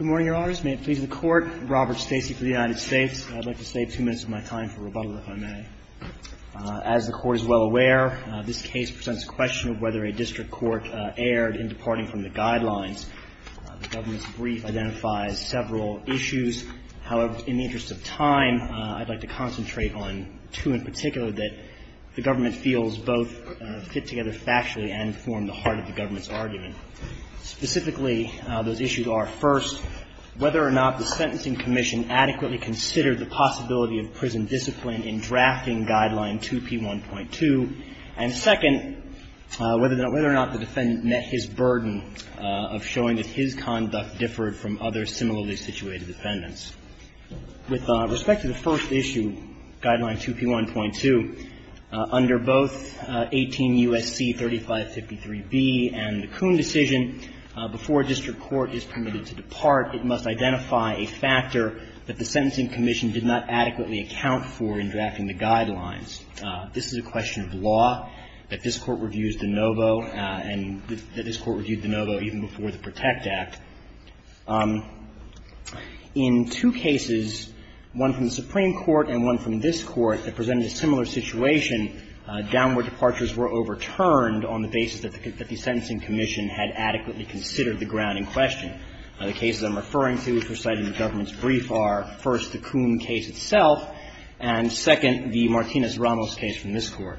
Robert Stacey for the United States. I'd like to save two minutes of my time for rebuttal, if I may. As the Court is well aware, this case presents a question of whether a district court erred in departing from the Guidelines. The government's brief identifies several issues. However, in the interest of time, I'd like to concentrate on two in particular that the government feels both fit together factually and form the heart of the government's argument. Specifically, those issues are, first, whether a district court has adequately considered the possibility of prison discipline in drafting Guideline 2P1.2, and second, whether or not the defendant met his burden of showing that his conduct differed from other similarly situated defendants. With respect to the first issue, Guideline 2P1.2, under both 18 U.S.C. 3553B and the Coon decision, before a district court is permitted to depart, it must identify a factor that the sentencing commission did not adequately account for in drafting the Guidelines. This is a question of law that this Court reviews de novo and that this Court reviewed de novo even before the PROTECT Act. In two cases, one from the Supreme Court and one from this Court that presented a similar situation, downward departures were overturned on the basis that the sentencing commission had adequately considered the ground in question. The cases I'm referring to, which were cited in the government's brief, are, first, the Coon case itself, and, second, the Martinez-Ramos case from this Court.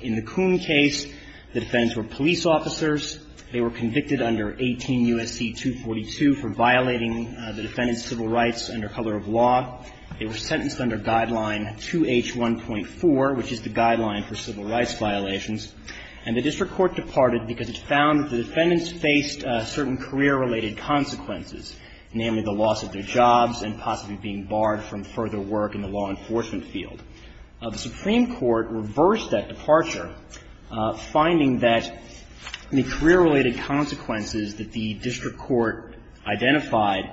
In the Coon case, the defendants were police officers. They were convicted under 18 U.S.C. 242 for violating the defendant's civil rights under color of law. They were sentenced under Guideline 2H1.4, which is the guideline for civil rights violations, and the district court departed because it found that the defendants faced certain career-related consequences, namely the loss of their jobs and possibly being barred from further work in the law enforcement field. The Supreme Court reversed that departure, finding that the career-related consequences that the district court identified,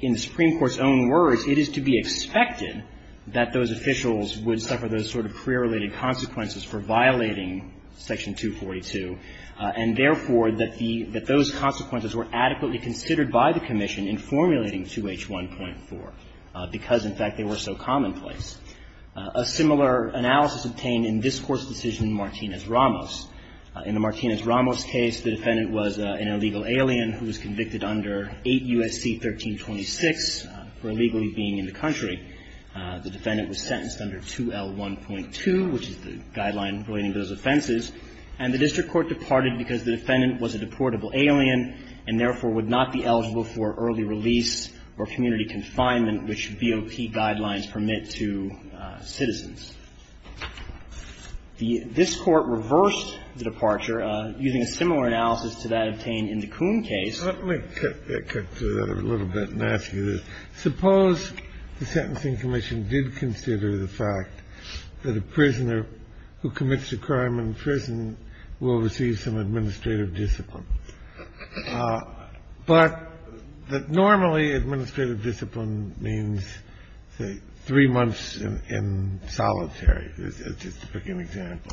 in the Supreme Court's own words, it is to be expected that those officials would suffer those sort of career-related consequences for violating Section 242, and, therefore, that the — that those consequences were adequately considered by the commission in formulating 2H1.4, because, in fact, they were so commonplace. A similar analysis obtained in this Court's decision in Martinez-Ramos. In the Martinez-Ramos case, the defendant was an illegal alien who was convicted under 8 U.S.C. 1326 for illegally being in the country. The defendant was sentenced under 2L1.2, which is the guideline relating to those offenses, and the district court departed because the defendant was a deportable alien and, therefore, would not be eligible for early release or community confinement, which BOP guidelines permit to citizens. This Court reversed the departure using a similar analysis to that obtained in the Kuhn case. Kennedy. Let me cut to that a little bit and ask you this. Suppose the Sentencing Commission did consider the fact that a prisoner who commits a crime in prison will receive some administrative discipline, but that normally administrative discipline means, say, three months in solitary, just to pick an example.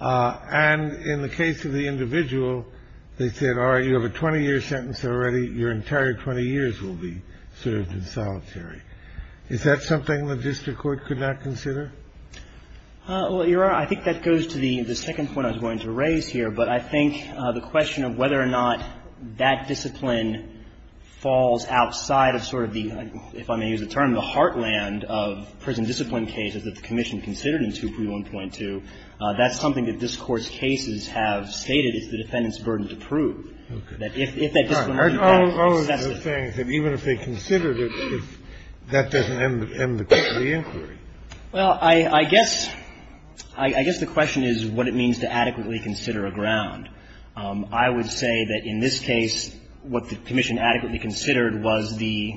And in the case of the individual, they said, all right, you have a 20-year sentence already, your entire 20 years will be served in solitary. Is that something the district court could not consider? Well, Your Honor, I think that goes to the second point I was going to raise here. But I think the question of whether or not that discipline falls outside of sort of the, if I may use the term, the heartland of prison discipline cases that the Commission considered in 2L1.2, that's something that this Court's cases have stated is the defendant's burden to prove, that if that discipline is not excessive. All of those things, that even if they considered it, that doesn't end the inquiry. Well, I guess the question is what it means to adequately consider a ground. I would say that in this case, what the Commission adequately considered was the,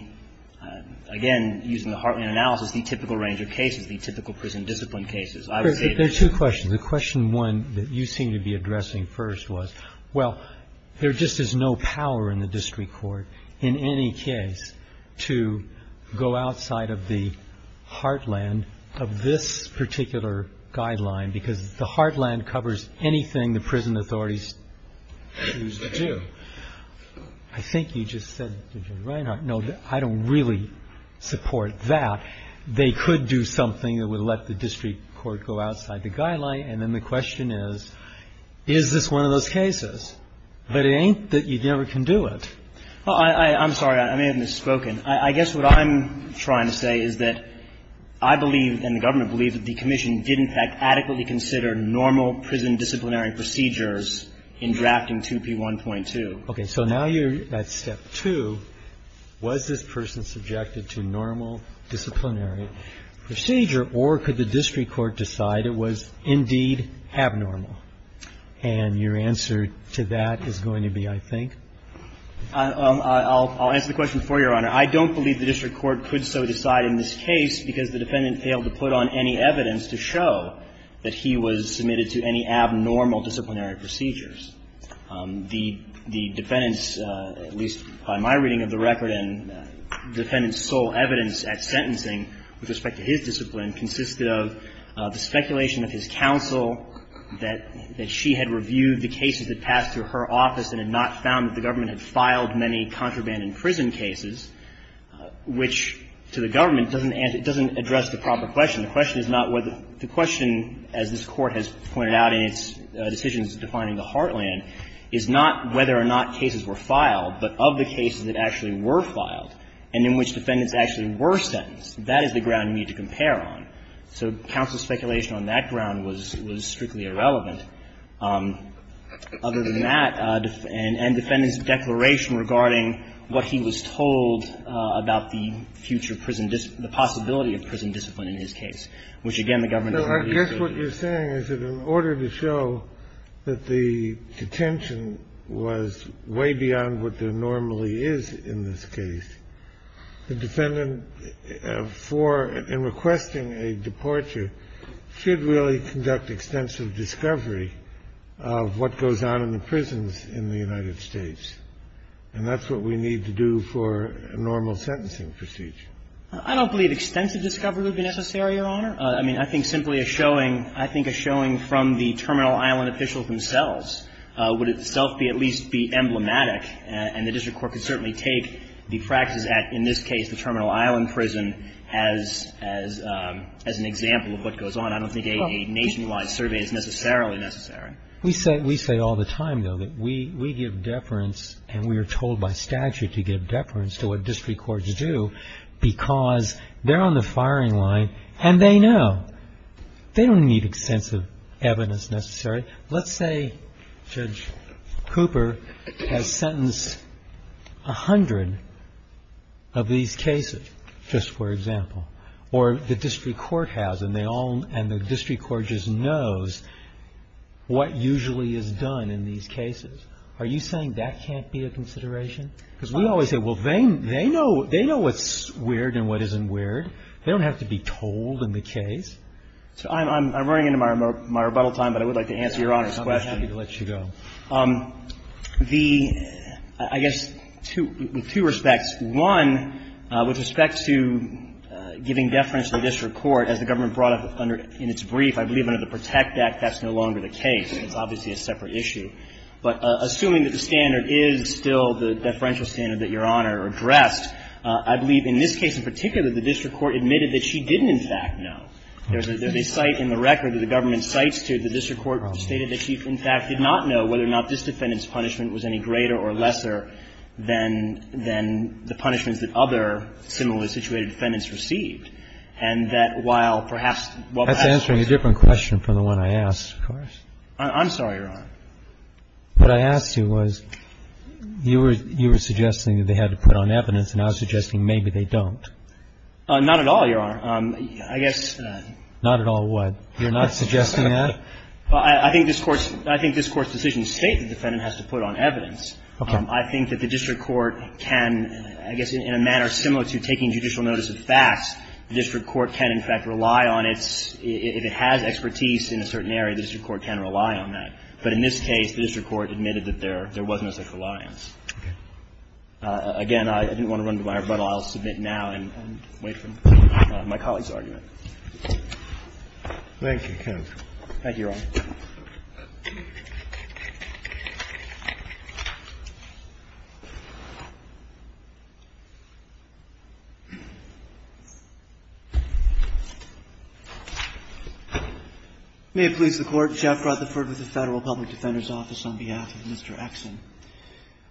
again, using the heartland analysis, the typical range of cases, the typical prison discipline cases. There are two questions. The question one that you seem to be addressing first was, well, there just is no power in the district court in any case to go outside of the heartland of this particular guideline, because the heartland covers anything the prison authorities choose to do. I think you just said, Judge Reinhart, no, I don't really support that. They could do something that would let the district court go outside the guideline, and then the question is, is this one of those cases? But it ain't that you never can do it. Well, I'm sorry. I may have misspoken. I guess what I'm trying to say is that I believe, and the Government believes, that the Commission did in fact adequately consider normal prison disciplinary procedures in drafting 2P1.2. Okay. So now you're at step two. Was this person subjected to normal disciplinary procedure, or could the district court decide it was indeed abnormal? And your answer to that is going to be, I think? I'll answer the question for you, Your Honor. I don't believe the district court could so decide in this case because the defendant failed to put on any evidence to show that he was submitted to any abnormal disciplinary procedures. The defendant's, at least by my reading of the record, and the defendant's sole evidence at sentencing with respect to his discipline consisted of the speculation of his counsel that she had reviewed the cases that passed through her office and had not found that the Government had filed many contraband in prison cases, which to the Government doesn't address the proper question. The question is not whether the question, as this Court has pointed out in its decisions defining the heartland, is not whether or not cases were filed, but of the cases that actually were filed and in which defendants actually were sentenced. That is the ground you need to compare on. So counsel's speculation on that ground was strictly irrelevant. Other than that, and defendant's declaration regarding what he was told about the future prison, the possibility of prison discipline in his case, which, again, the Government doesn't address. I guess what you're saying is that in order to show that the detention was way beyond what there normally is in this case, the defendant for and requesting a departure should really conduct extensive discovery of what goes on in the prisons in the United States. And that's what we need to do for a normal sentencing procedure. I don't believe extensive discovery would be necessary, Your Honor. I mean, I think simply a showing, I think a showing from the Terminal Island officials themselves would itself be at least be emblematic. And the district court could certainly take the practice at, in this case, the Terminal Island prison as an example of what goes on. I don't think a nationwide survey is necessarily necessary. We say all the time, though, that we give deference and we are told by statute to give deference to what district courts do because they're on the firing line and they know. They don't need extensive evidence necessarily. Let's say Judge Cooper has sentenced a hundred of these cases, just for example, or the district court has and they all – and the district court just knows what usually is done in these cases. Are you saying that can't be a consideration? Because we always say, well, they know what's weird and what isn't weird. They don't have to be told in the case. I'm running into my rebuttal time, but I would like to answer Your Honor's question. I'm just happy to let you go. The – I guess, with two respects. One, with respect to giving deference to the district court, as the government brought up in its brief, I believe under the PROTECT Act that's no longer the case. It's obviously a separate issue. But assuming that the standard is still the deferential standard that Your Honor addressed, I believe in this case in particular, the district court admitted that she didn't in fact know. There's a cite in the record that the government cites to the district court stated that she in fact did not know whether or not this defendant's punishment was any greater or lesser than the punishments that other similarly situated defendants received. And that while perhaps – That's answering a different question from the one I asked, of course. I'm sorry, Your Honor. What I asked you was, you were suggesting that they had to put on evidence, Not at all, Your Honor. I guess Not at all what? You're not suggesting that? Well, I think this Court's – I think this Court's decision states the defendant has to put on evidence. Okay. I think that the district court can, I guess in a manner similar to taking judicial notice of facts, the district court can in fact rely on its – if it has expertise in a certain area, the district court can rely on that. But in this case, the district court admitted that there wasn't a such reliance. Okay. Again, I didn't want to run to my rebuttal. So I'll submit now and wait for my colleague's argument. Thank you, counsel. Thank you, Your Honor. May it please the Court. Jeff Rutherford with the Federal Public Defender's Office on behalf of Mr. Exson.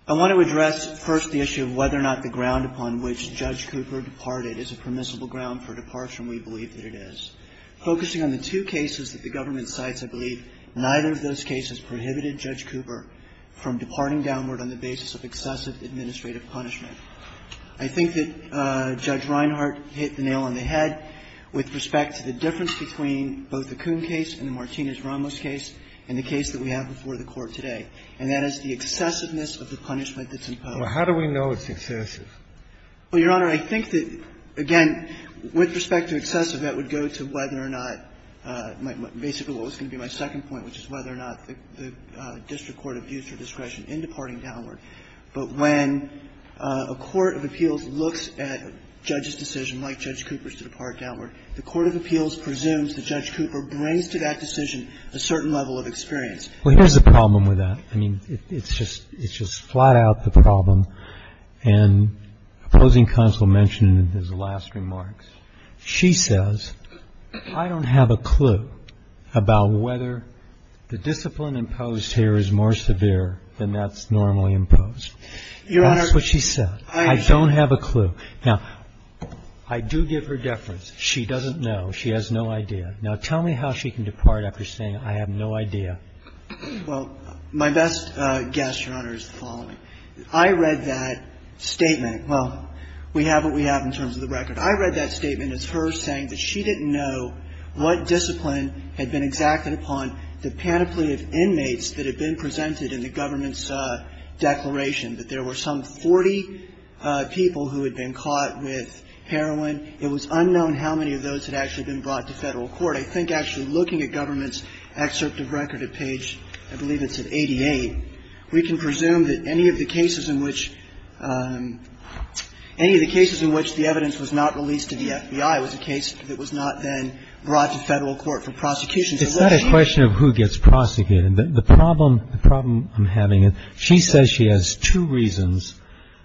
I want to address first the issue of whether or not the ground upon which Judge Cooper departed is a permissible ground for departure, and we believe that it is. Focusing on the two cases that the government cites, I believe neither of those cases prohibited Judge Cooper from departing downward on the basis of excessive administrative punishment. I think that Judge Reinhart hit the nail on the head with respect to the difference between both the Coon case and the Martinez-Ramos case and the case that we have before the Court today. And that is the excessiveness of the punishment that's imposed. Well, how do we know it's excessive? Well, Your Honor, I think that, again, with respect to excessive, that would go to whether or not my – basically what was going to be my second point, which is whether or not the district court abused her discretion in departing downward. But when a court of appeals looks at a judge's decision, like Judge Cooper's, to depart downward, the court of appeals presumes that Judge Cooper brings to that decision a certain level of experience. Well, here's the problem with that. I mean, it's just flat out the problem. And opposing counsel mentioned in his last remarks, she says, I don't have a clue about whether the discipline imposed here is more severe than that's normally imposed. That's what she said. I don't have a clue. Now, I do give her deference. She doesn't know. She has no idea. Now, tell me how she can depart after saying, I have no idea. Well, my best guess, Your Honor, is the following. I read that statement. Well, we have what we have in terms of the record. I read that statement as her saying that she didn't know what discipline had been exacted upon the panoply of inmates that had been presented in the government's declaration, that there were some 40 people who had been caught with heroin. It was unknown how many of those had actually been brought to federal court. I think actually looking at government's excerpt of record at page, I believe it's at 88, we can presume that any of the cases in which the evidence was not released to the FBI was a case that was not then brought to federal court for prosecution. It's not a question of who gets prosecuted. The problem I'm having, she says she has two reasons,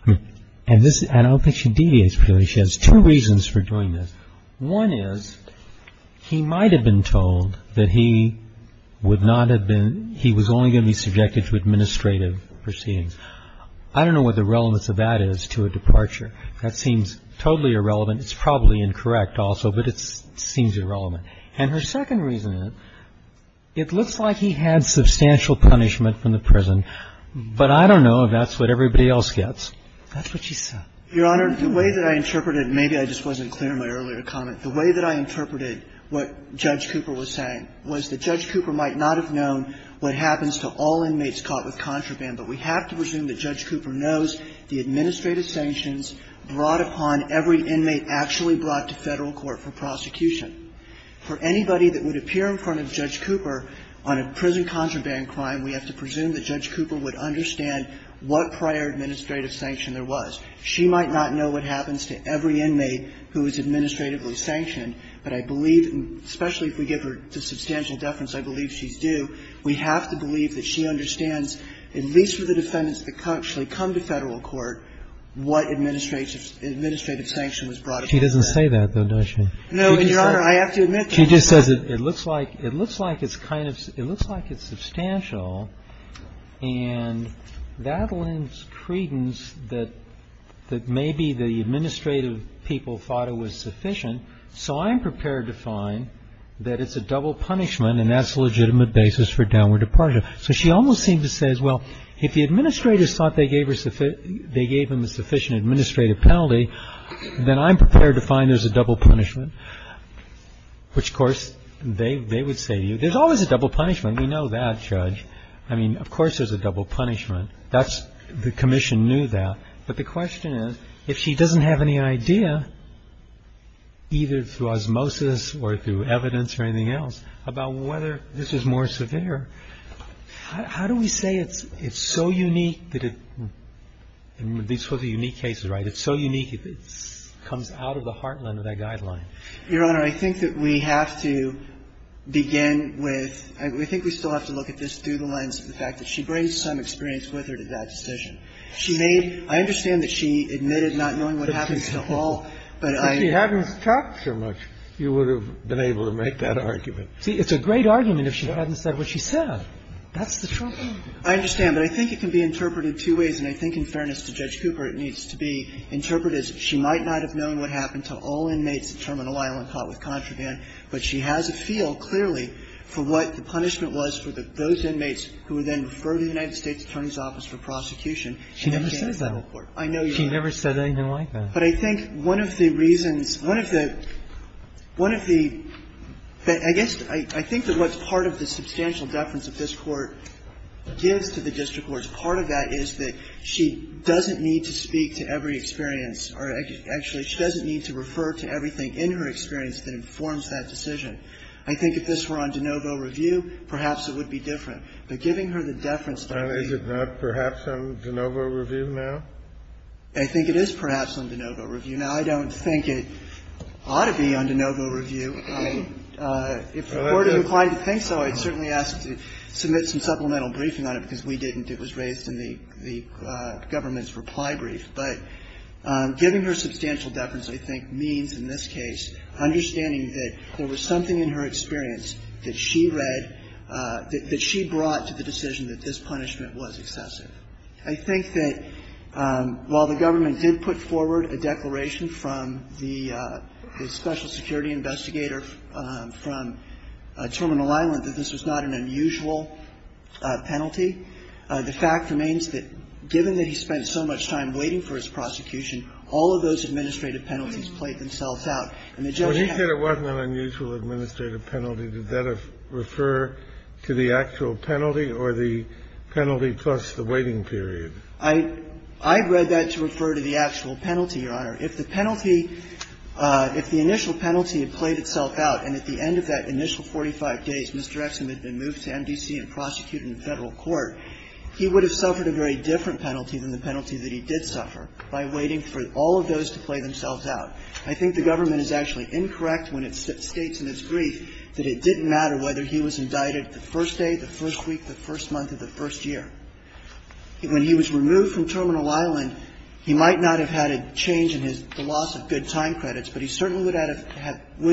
and I don't think she deviates from the principle that she has two reasons for doing this. One is he might have been told that he would not have been, he was only going to be subjected to administrative proceedings. I don't know what the relevance of that is to a departure. That seems totally irrelevant. It's probably incorrect also, but it seems irrelevant. And her second reason, it looks like he had substantial punishment from the prison, but I don't know if that's what everybody else gets. That's what she said. Your Honor, the way that I interpreted, maybe I just wasn't clear in my earlier comment, the way that I interpreted what Judge Cooper was saying was that Judge Cooper might not have known what happens to all inmates caught with contraband, but we have to presume that Judge Cooper knows the administrative sanctions brought upon every inmate actually brought to federal court for prosecution. For anybody that would appear in front of Judge Cooper on a prison contraband crime, we have to presume that Judge Cooper would understand what prior administrative sanction there was. She might not know what happens to every inmate who is administratively sanctioned, but I believe, especially if we give her the substantial deference I believe she's due, we have to believe that she understands, at least for the defendants that actually come to federal court, what administrative sanction was brought upon. She doesn't say that, though, does she? No, and, Your Honor, I have to admit that. She just says it looks like it's kind of, it looks like it's substantial, and that lends credence that maybe the administrative people thought it was sufficient, so I'm prepared to find that it's a double punishment and that's a legitimate basis for downward departure. So she almost seems to say, as well, if the administrators thought they gave her, they gave them a sufficient administrative penalty, then I'm prepared to find there's a double punishment, which, of course, they would say to you, there's always a double punishment. I mean, of course there's a double punishment. That's, the commission knew that. But the question is, if she doesn't have any idea, either through osmosis or through evidence or anything else, about whether this is more severe, how do we say it's so unique that it, these were the unique cases, right, it's so unique it comes out of the heartland of that guideline? Your Honor, I think that we have to begin with, I think we still have to look at the case through the lens of the fact that she brings some experience with her to that decision. She made, I understand that she admitted not knowing what happened to all, but I. Kennedy, but if she hadn't talked so much, you would have been able to make that argument. See, it's a great argument if she hadn't said what she said. That's the trouble. I understand. But I think it can be interpreted two ways, and I think in fairness to Judge Cooper it needs to be interpreted as she might not have known what happened to all inmates at Terminal Island caught with contraband, but she has a feel, clearly, for what the punishment was for those inmates who were then referred to the United States Attorney's Office for prosecution. She never said that. I know you're right. She never said anything like that. But I think one of the reasons, one of the, one of the, I guess, I think that what's part of the substantial deference that this Court gives to the district courts, part of that is that she doesn't need to speak to every experience, or actually she doesn't need to refer to everything in her experience that informs that decision. I think if this were on de novo review, perhaps it would be different. But giving her the deference that we need. And is it not perhaps on de novo review now? I think it is perhaps on de novo review. Now, I don't think it ought to be on de novo review. If the Court is inclined to think so, I'd certainly ask to submit some supplemental briefing on it, because we didn't. It was raised in the government's reply brief. But giving her substantial deference, I think, means in this case understanding that there was something in her experience that she read, that she brought to the decision that this punishment was excessive. I think that while the government did put forward a declaration from the special security investigator from Terminal Island that this was not an unusual penalty, the fact remains that given that he spent so much time waiting for his prosecution, all of those administrative penalties played themselves out. And the judge had to do that. Kennedy. Well, he said it wasn't an unusual administrative penalty. Did that refer to the actual penalty or the penalty plus the waiting period? I read that to refer to the actual penalty, Your Honor. If the penalty, if the initial penalty had played itself out, and at the end of that initial 45 days, Mr. Exum had been moved to MDC and prosecuted in Federal court, he would have suffered a very different penalty than the penalty that he did suffer by waiting for all of those to play themselves out. I think the government is actually incorrect when it states in its brief that it didn't matter whether he was indicted the first day, the first week, the first month of the first year. When he was removed from Terminal Island, he might not have had a change in his, the loss of good time credits, but he certainly would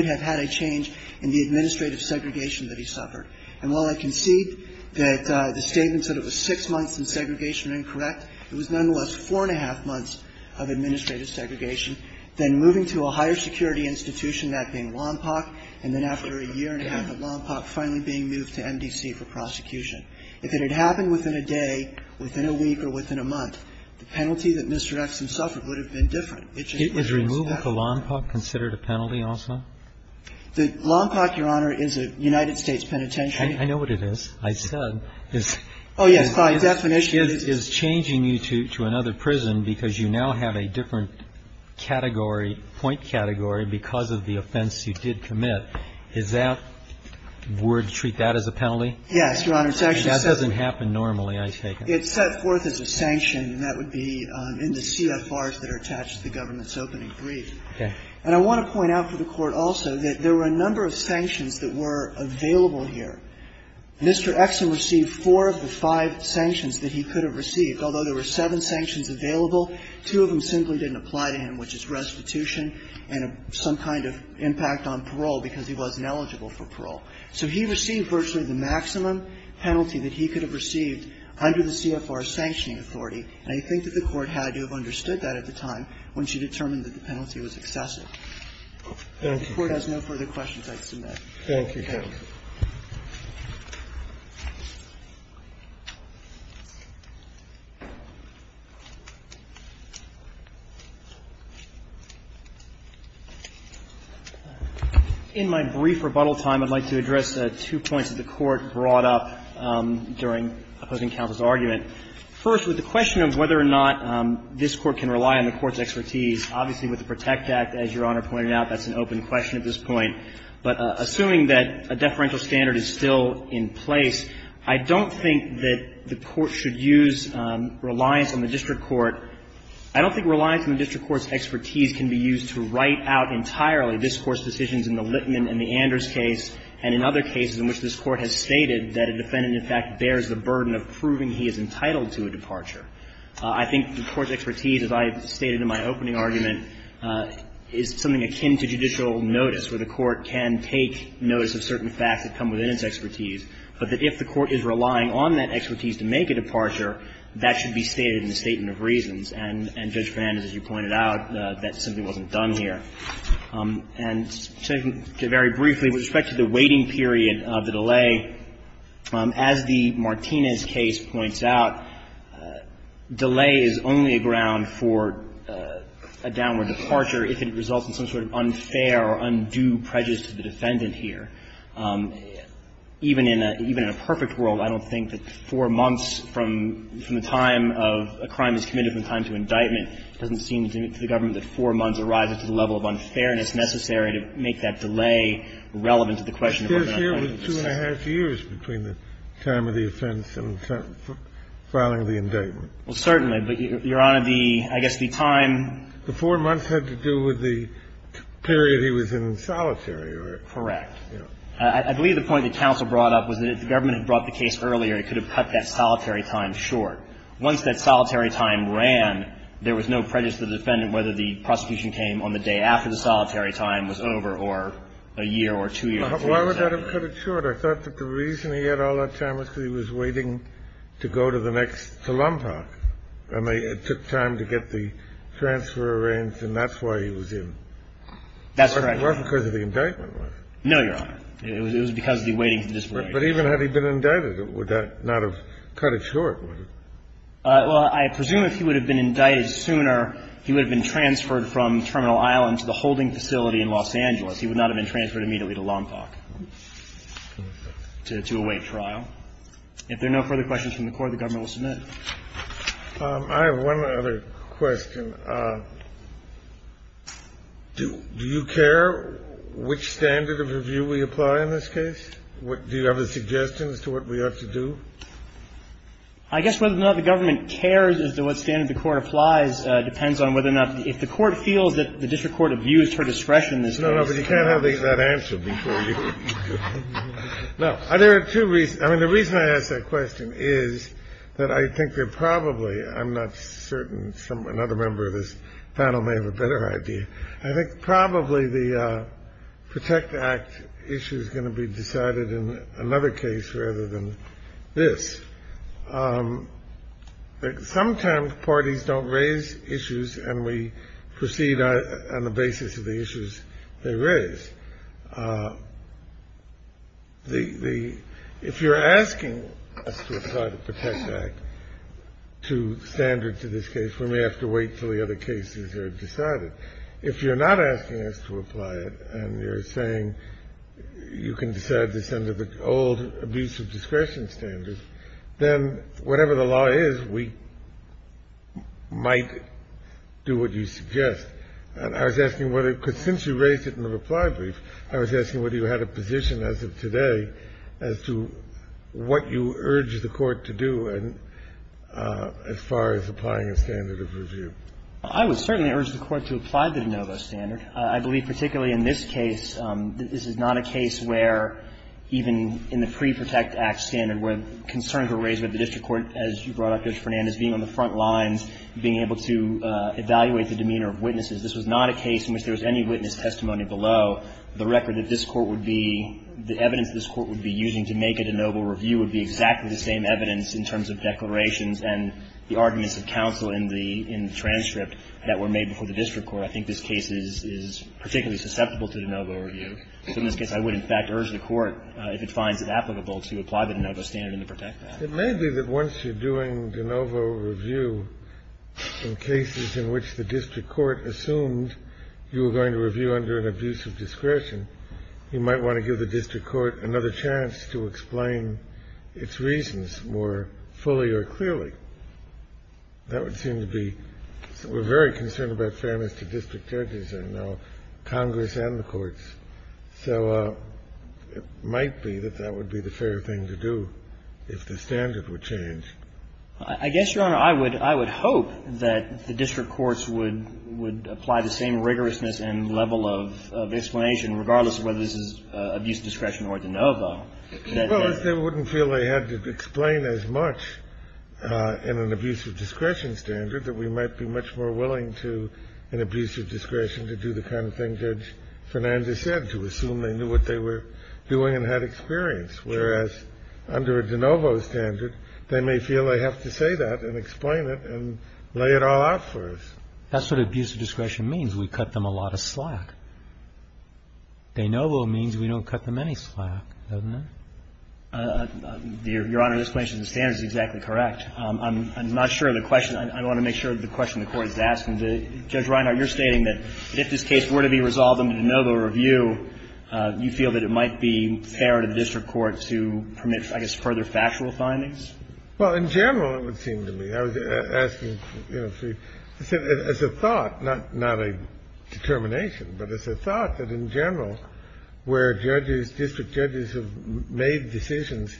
have had a change in the administrative segregation that he suffered. And while I concede that the statement said it was six months in segregation incorrect, it was nonetheless four and a half months of administrative segregation, then moving to a higher security institution, that being Lompoc, and then after a year and a half at Lompoc, finally being moved to MDC for prosecution. If it had happened within a day, within a week, or within a month, the penalty that Mr. Exum suffered would have been different. It just wouldn't have been the same. Is removal to Lompoc considered a penalty also? Lompoc, Your Honor, is a United States penitentiary. I know what it is. I said this is changing you to another prison because you now have a different category, point category, because of the offense you did commit. Is that, would you treat that as a penalty? Yes, Your Honor. It's actually set forth. That doesn't happen normally, I take it. It's set forth as a sanction, and that would be in the CFRs that are attached to the government's opening brief. Okay. And I want to point out for the Court also that there were a number of sanctions that were available here. Mr. Exum received four of the five sanctions that he could have received, although there were seven sanctions available. Two of them simply didn't apply to him, which is restitution and some kind of impact on parole because he wasn't eligible for parole. So he received virtually the maximum penalty that he could have received under the CFR sanctioning authority, and I think that the Court had to have understood that at the time when she determined that the penalty was excessive. Thank you. I submit. Thank you, counsel. In my brief rebuttal time, I'd like to address two points that the Court brought up during opposing counsel's argument. First, with the question of whether or not this Court can rely on the Court's expertise, obviously with the PROTECT Act, as Your Honor pointed out, that's an open question at this point. But assuming that a deferential standard is still in place, I don't think that the Court should use reliance on the district court. I don't think reliance on the district court's expertise can be used to write out entirely this Court's decisions in the Littman and the Anders case and in other cases in which this Court has stated that a defendant, in fact, bears the burden of proving he is entitled to a departure. I think the Court's expertise, as I stated in my opening argument, is something that's akin to judicial notice, where the Court can take notice of certain facts that come within its expertise, but that if the Court is relying on that expertise to make a departure, that should be stated in the statement of reasons. And Judge Fernandez, as you pointed out, that simply wasn't done here. And to very briefly, with respect to the waiting period of the delay, as the Martinez case points out, delay is only a ground for a downward departure if it results in some sort of unfair or undue prejudice to the defendant here. Even in a perfect world, I don't think that four months from the time of a crime that's committed from the time of indictment doesn't seem to the government that four months arrives at the level of unfairness necessary to make that delay relevant to the question of whether or not the defendant is guilty. Kennedy, it appears here was two and a half years between the time of the offense and the time of filing the indictment. Well, certainly. But, Your Honor, the – I guess the time – The four months had to do with the period he was in solitary. Correct. I believe the point that counsel brought up was that if the government had brought the case earlier, it could have cut that solitary time short. Once that solitary time ran, there was no prejudice to the defendant whether the prosecution came on the day after the solitary time was over or a year or two years later. Why would that have cut it short? I thought that the reason he had all that time was because he was waiting to go to the next – to Lompoc. I mean, it took time to get the transfer arranged, and that's why he was in. That's correct. It wasn't because of the indictment, was it? No, Your Honor. It was because of the waiting to disperse. But even had he been indicted, would that not have cut it short? Well, I presume if he would have been indicted sooner, he would have been transferred from Terminal Island to the holding facility in Los Angeles. He would not have been transferred immediately to Lompoc to await trial. If there are no further questions from the Court, the Government will submit. I have one other question. Do you care which standard of review we apply in this case? Do you have a suggestion as to what we ought to do? I guess whether or not the Government cares as to what standard the Court applies depends on whether or not – if the Court feels that the district court abused her discretion, this case – No, no, but you can't have that answered before you – No, there are two reasons. I mean, the reason I ask that question is that I think there probably – I'm not certain another member of this panel may have a better idea – I think probably the Protect Act issue is going to be decided in another case rather than this. Sometimes parties don't raise issues and we proceed on the basis of the issues they raise. The – if you're asking us to apply the Protect Act to standards of this case, we may have to wait until the other cases are decided. If you're not asking us to apply it and you're saying you can decide this under the old abuse of discretion standards, then whatever the law is, we might do what you suggest. And I was asking whether – because since you raised it in the reply brief, I was asking whether you had a position as of today as to what you urge the Court to do as far as applying a standard of review. I would certainly urge the Court to apply the de novo standard. I believe particularly in this case, this is not a case where even in the pre-Protect Act standard where concerns were raised with the district court, as you brought This was not a case in which there was any witness testimony below the record that this Court would be – the evidence this Court would be using to make a de novo review would be exactly the same evidence in terms of declarations and the arguments of counsel in the transcript that were made before the district court. I think this case is particularly susceptible to de novo review. So in this case, I would, in fact, urge the Court, if it finds it applicable, to apply the de novo standard in the Protect Act. It may be that once you're doing de novo review in cases in which the district court assumed you were going to review under an abuse of discretion, you might want to give the district court another chance to explain its reasons more fully or clearly. That would seem to be – we're very concerned about fairness to district judges and now Congress and the courts. So it might be that that would be the fair thing to do if the standard were changed. I guess, Your Honor, I would hope that the district courts would apply the same rigorousness and level of explanation, regardless of whether this is abuse of discretion or de novo. Well, I wouldn't feel they had to explain as much in an abuse of discretion standard that we might be much more willing to, in abuse of discretion, to do the kind of thing Judge Fernandez said, to assume they knew what they were doing and had experience, whereas under a de novo standard, they may feel they have to say that and explain it and lay it all out for us. That's what abuse of discretion means. We cut them a lot of slack. De novo means we don't cut them any slack, doesn't it? Your Honor, this question of standards is exactly correct. I'm not sure of the question. I want to make sure of the question the Court is asking. Judge Reinhart, you're stating that if this case were to be resolved under de novo review, you feel that it might be fair to the district court to permit, I guess, further factual findings? Well, in general, it would seem to me. I was asking, you know, as a thought, not a determination, but as a thought, that in general, where judges, district judges have made decisions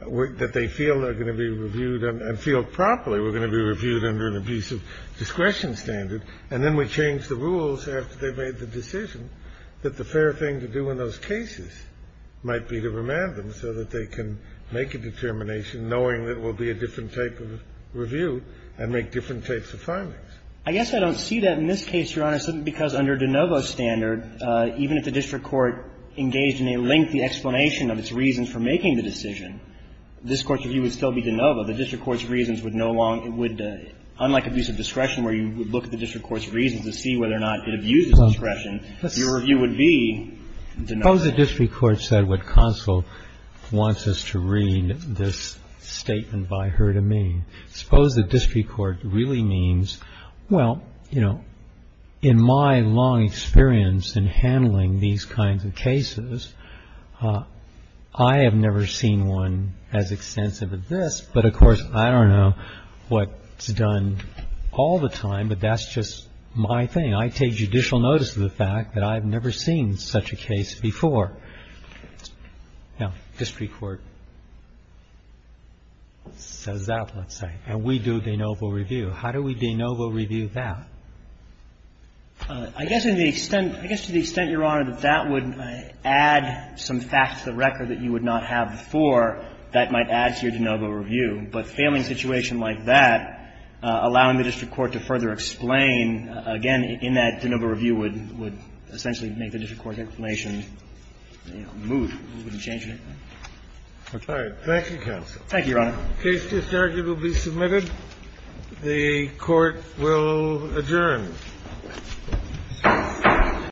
that they feel are going to be reviewed and feel properly were going to be reviewed under an abuse of discretion standard, and then we change the rules after they've made the decision that the fair thing to do in those cases might be to remand them so that they can make a determination knowing that it will be a different type of review and make different types of findings. I guess I don't see that in this case, Your Honor, simply because under de novo standard, even if the district court engaged in a lengthy explanation of its reasons for making the decision, this Court's review would still be de novo. The district court's reasons would no longer be. Unlike abuse of discretion where you would look at the district court's reasons to see whether or not it abuses discretion, your review would be de novo. Suppose the district court said what Counsel wants us to read this statement by her to me. Suppose the district court really means, well, you know, in my long experience in handling these kinds of cases, I have never seen one as extensive as this. But, of course, I don't know what's done all the time, but that's just my thing. I take judicial notice of the fact that I've never seen such a case before. Now, district court says that, let's say, and we do de novo review. How do we de novo review that? I guess to the extent, Your Honor, that that would add some facts to the record that you would not have before, that might add to your de novo review. But failing a situation like that, allowing the district court to further explain, again, in that de novo review would essentially make the district court explanation move, wouldn't change anything. Okay. Thank you, Counsel. Thank you, Your Honor. The case is arguably submitted. The Court will adjourn.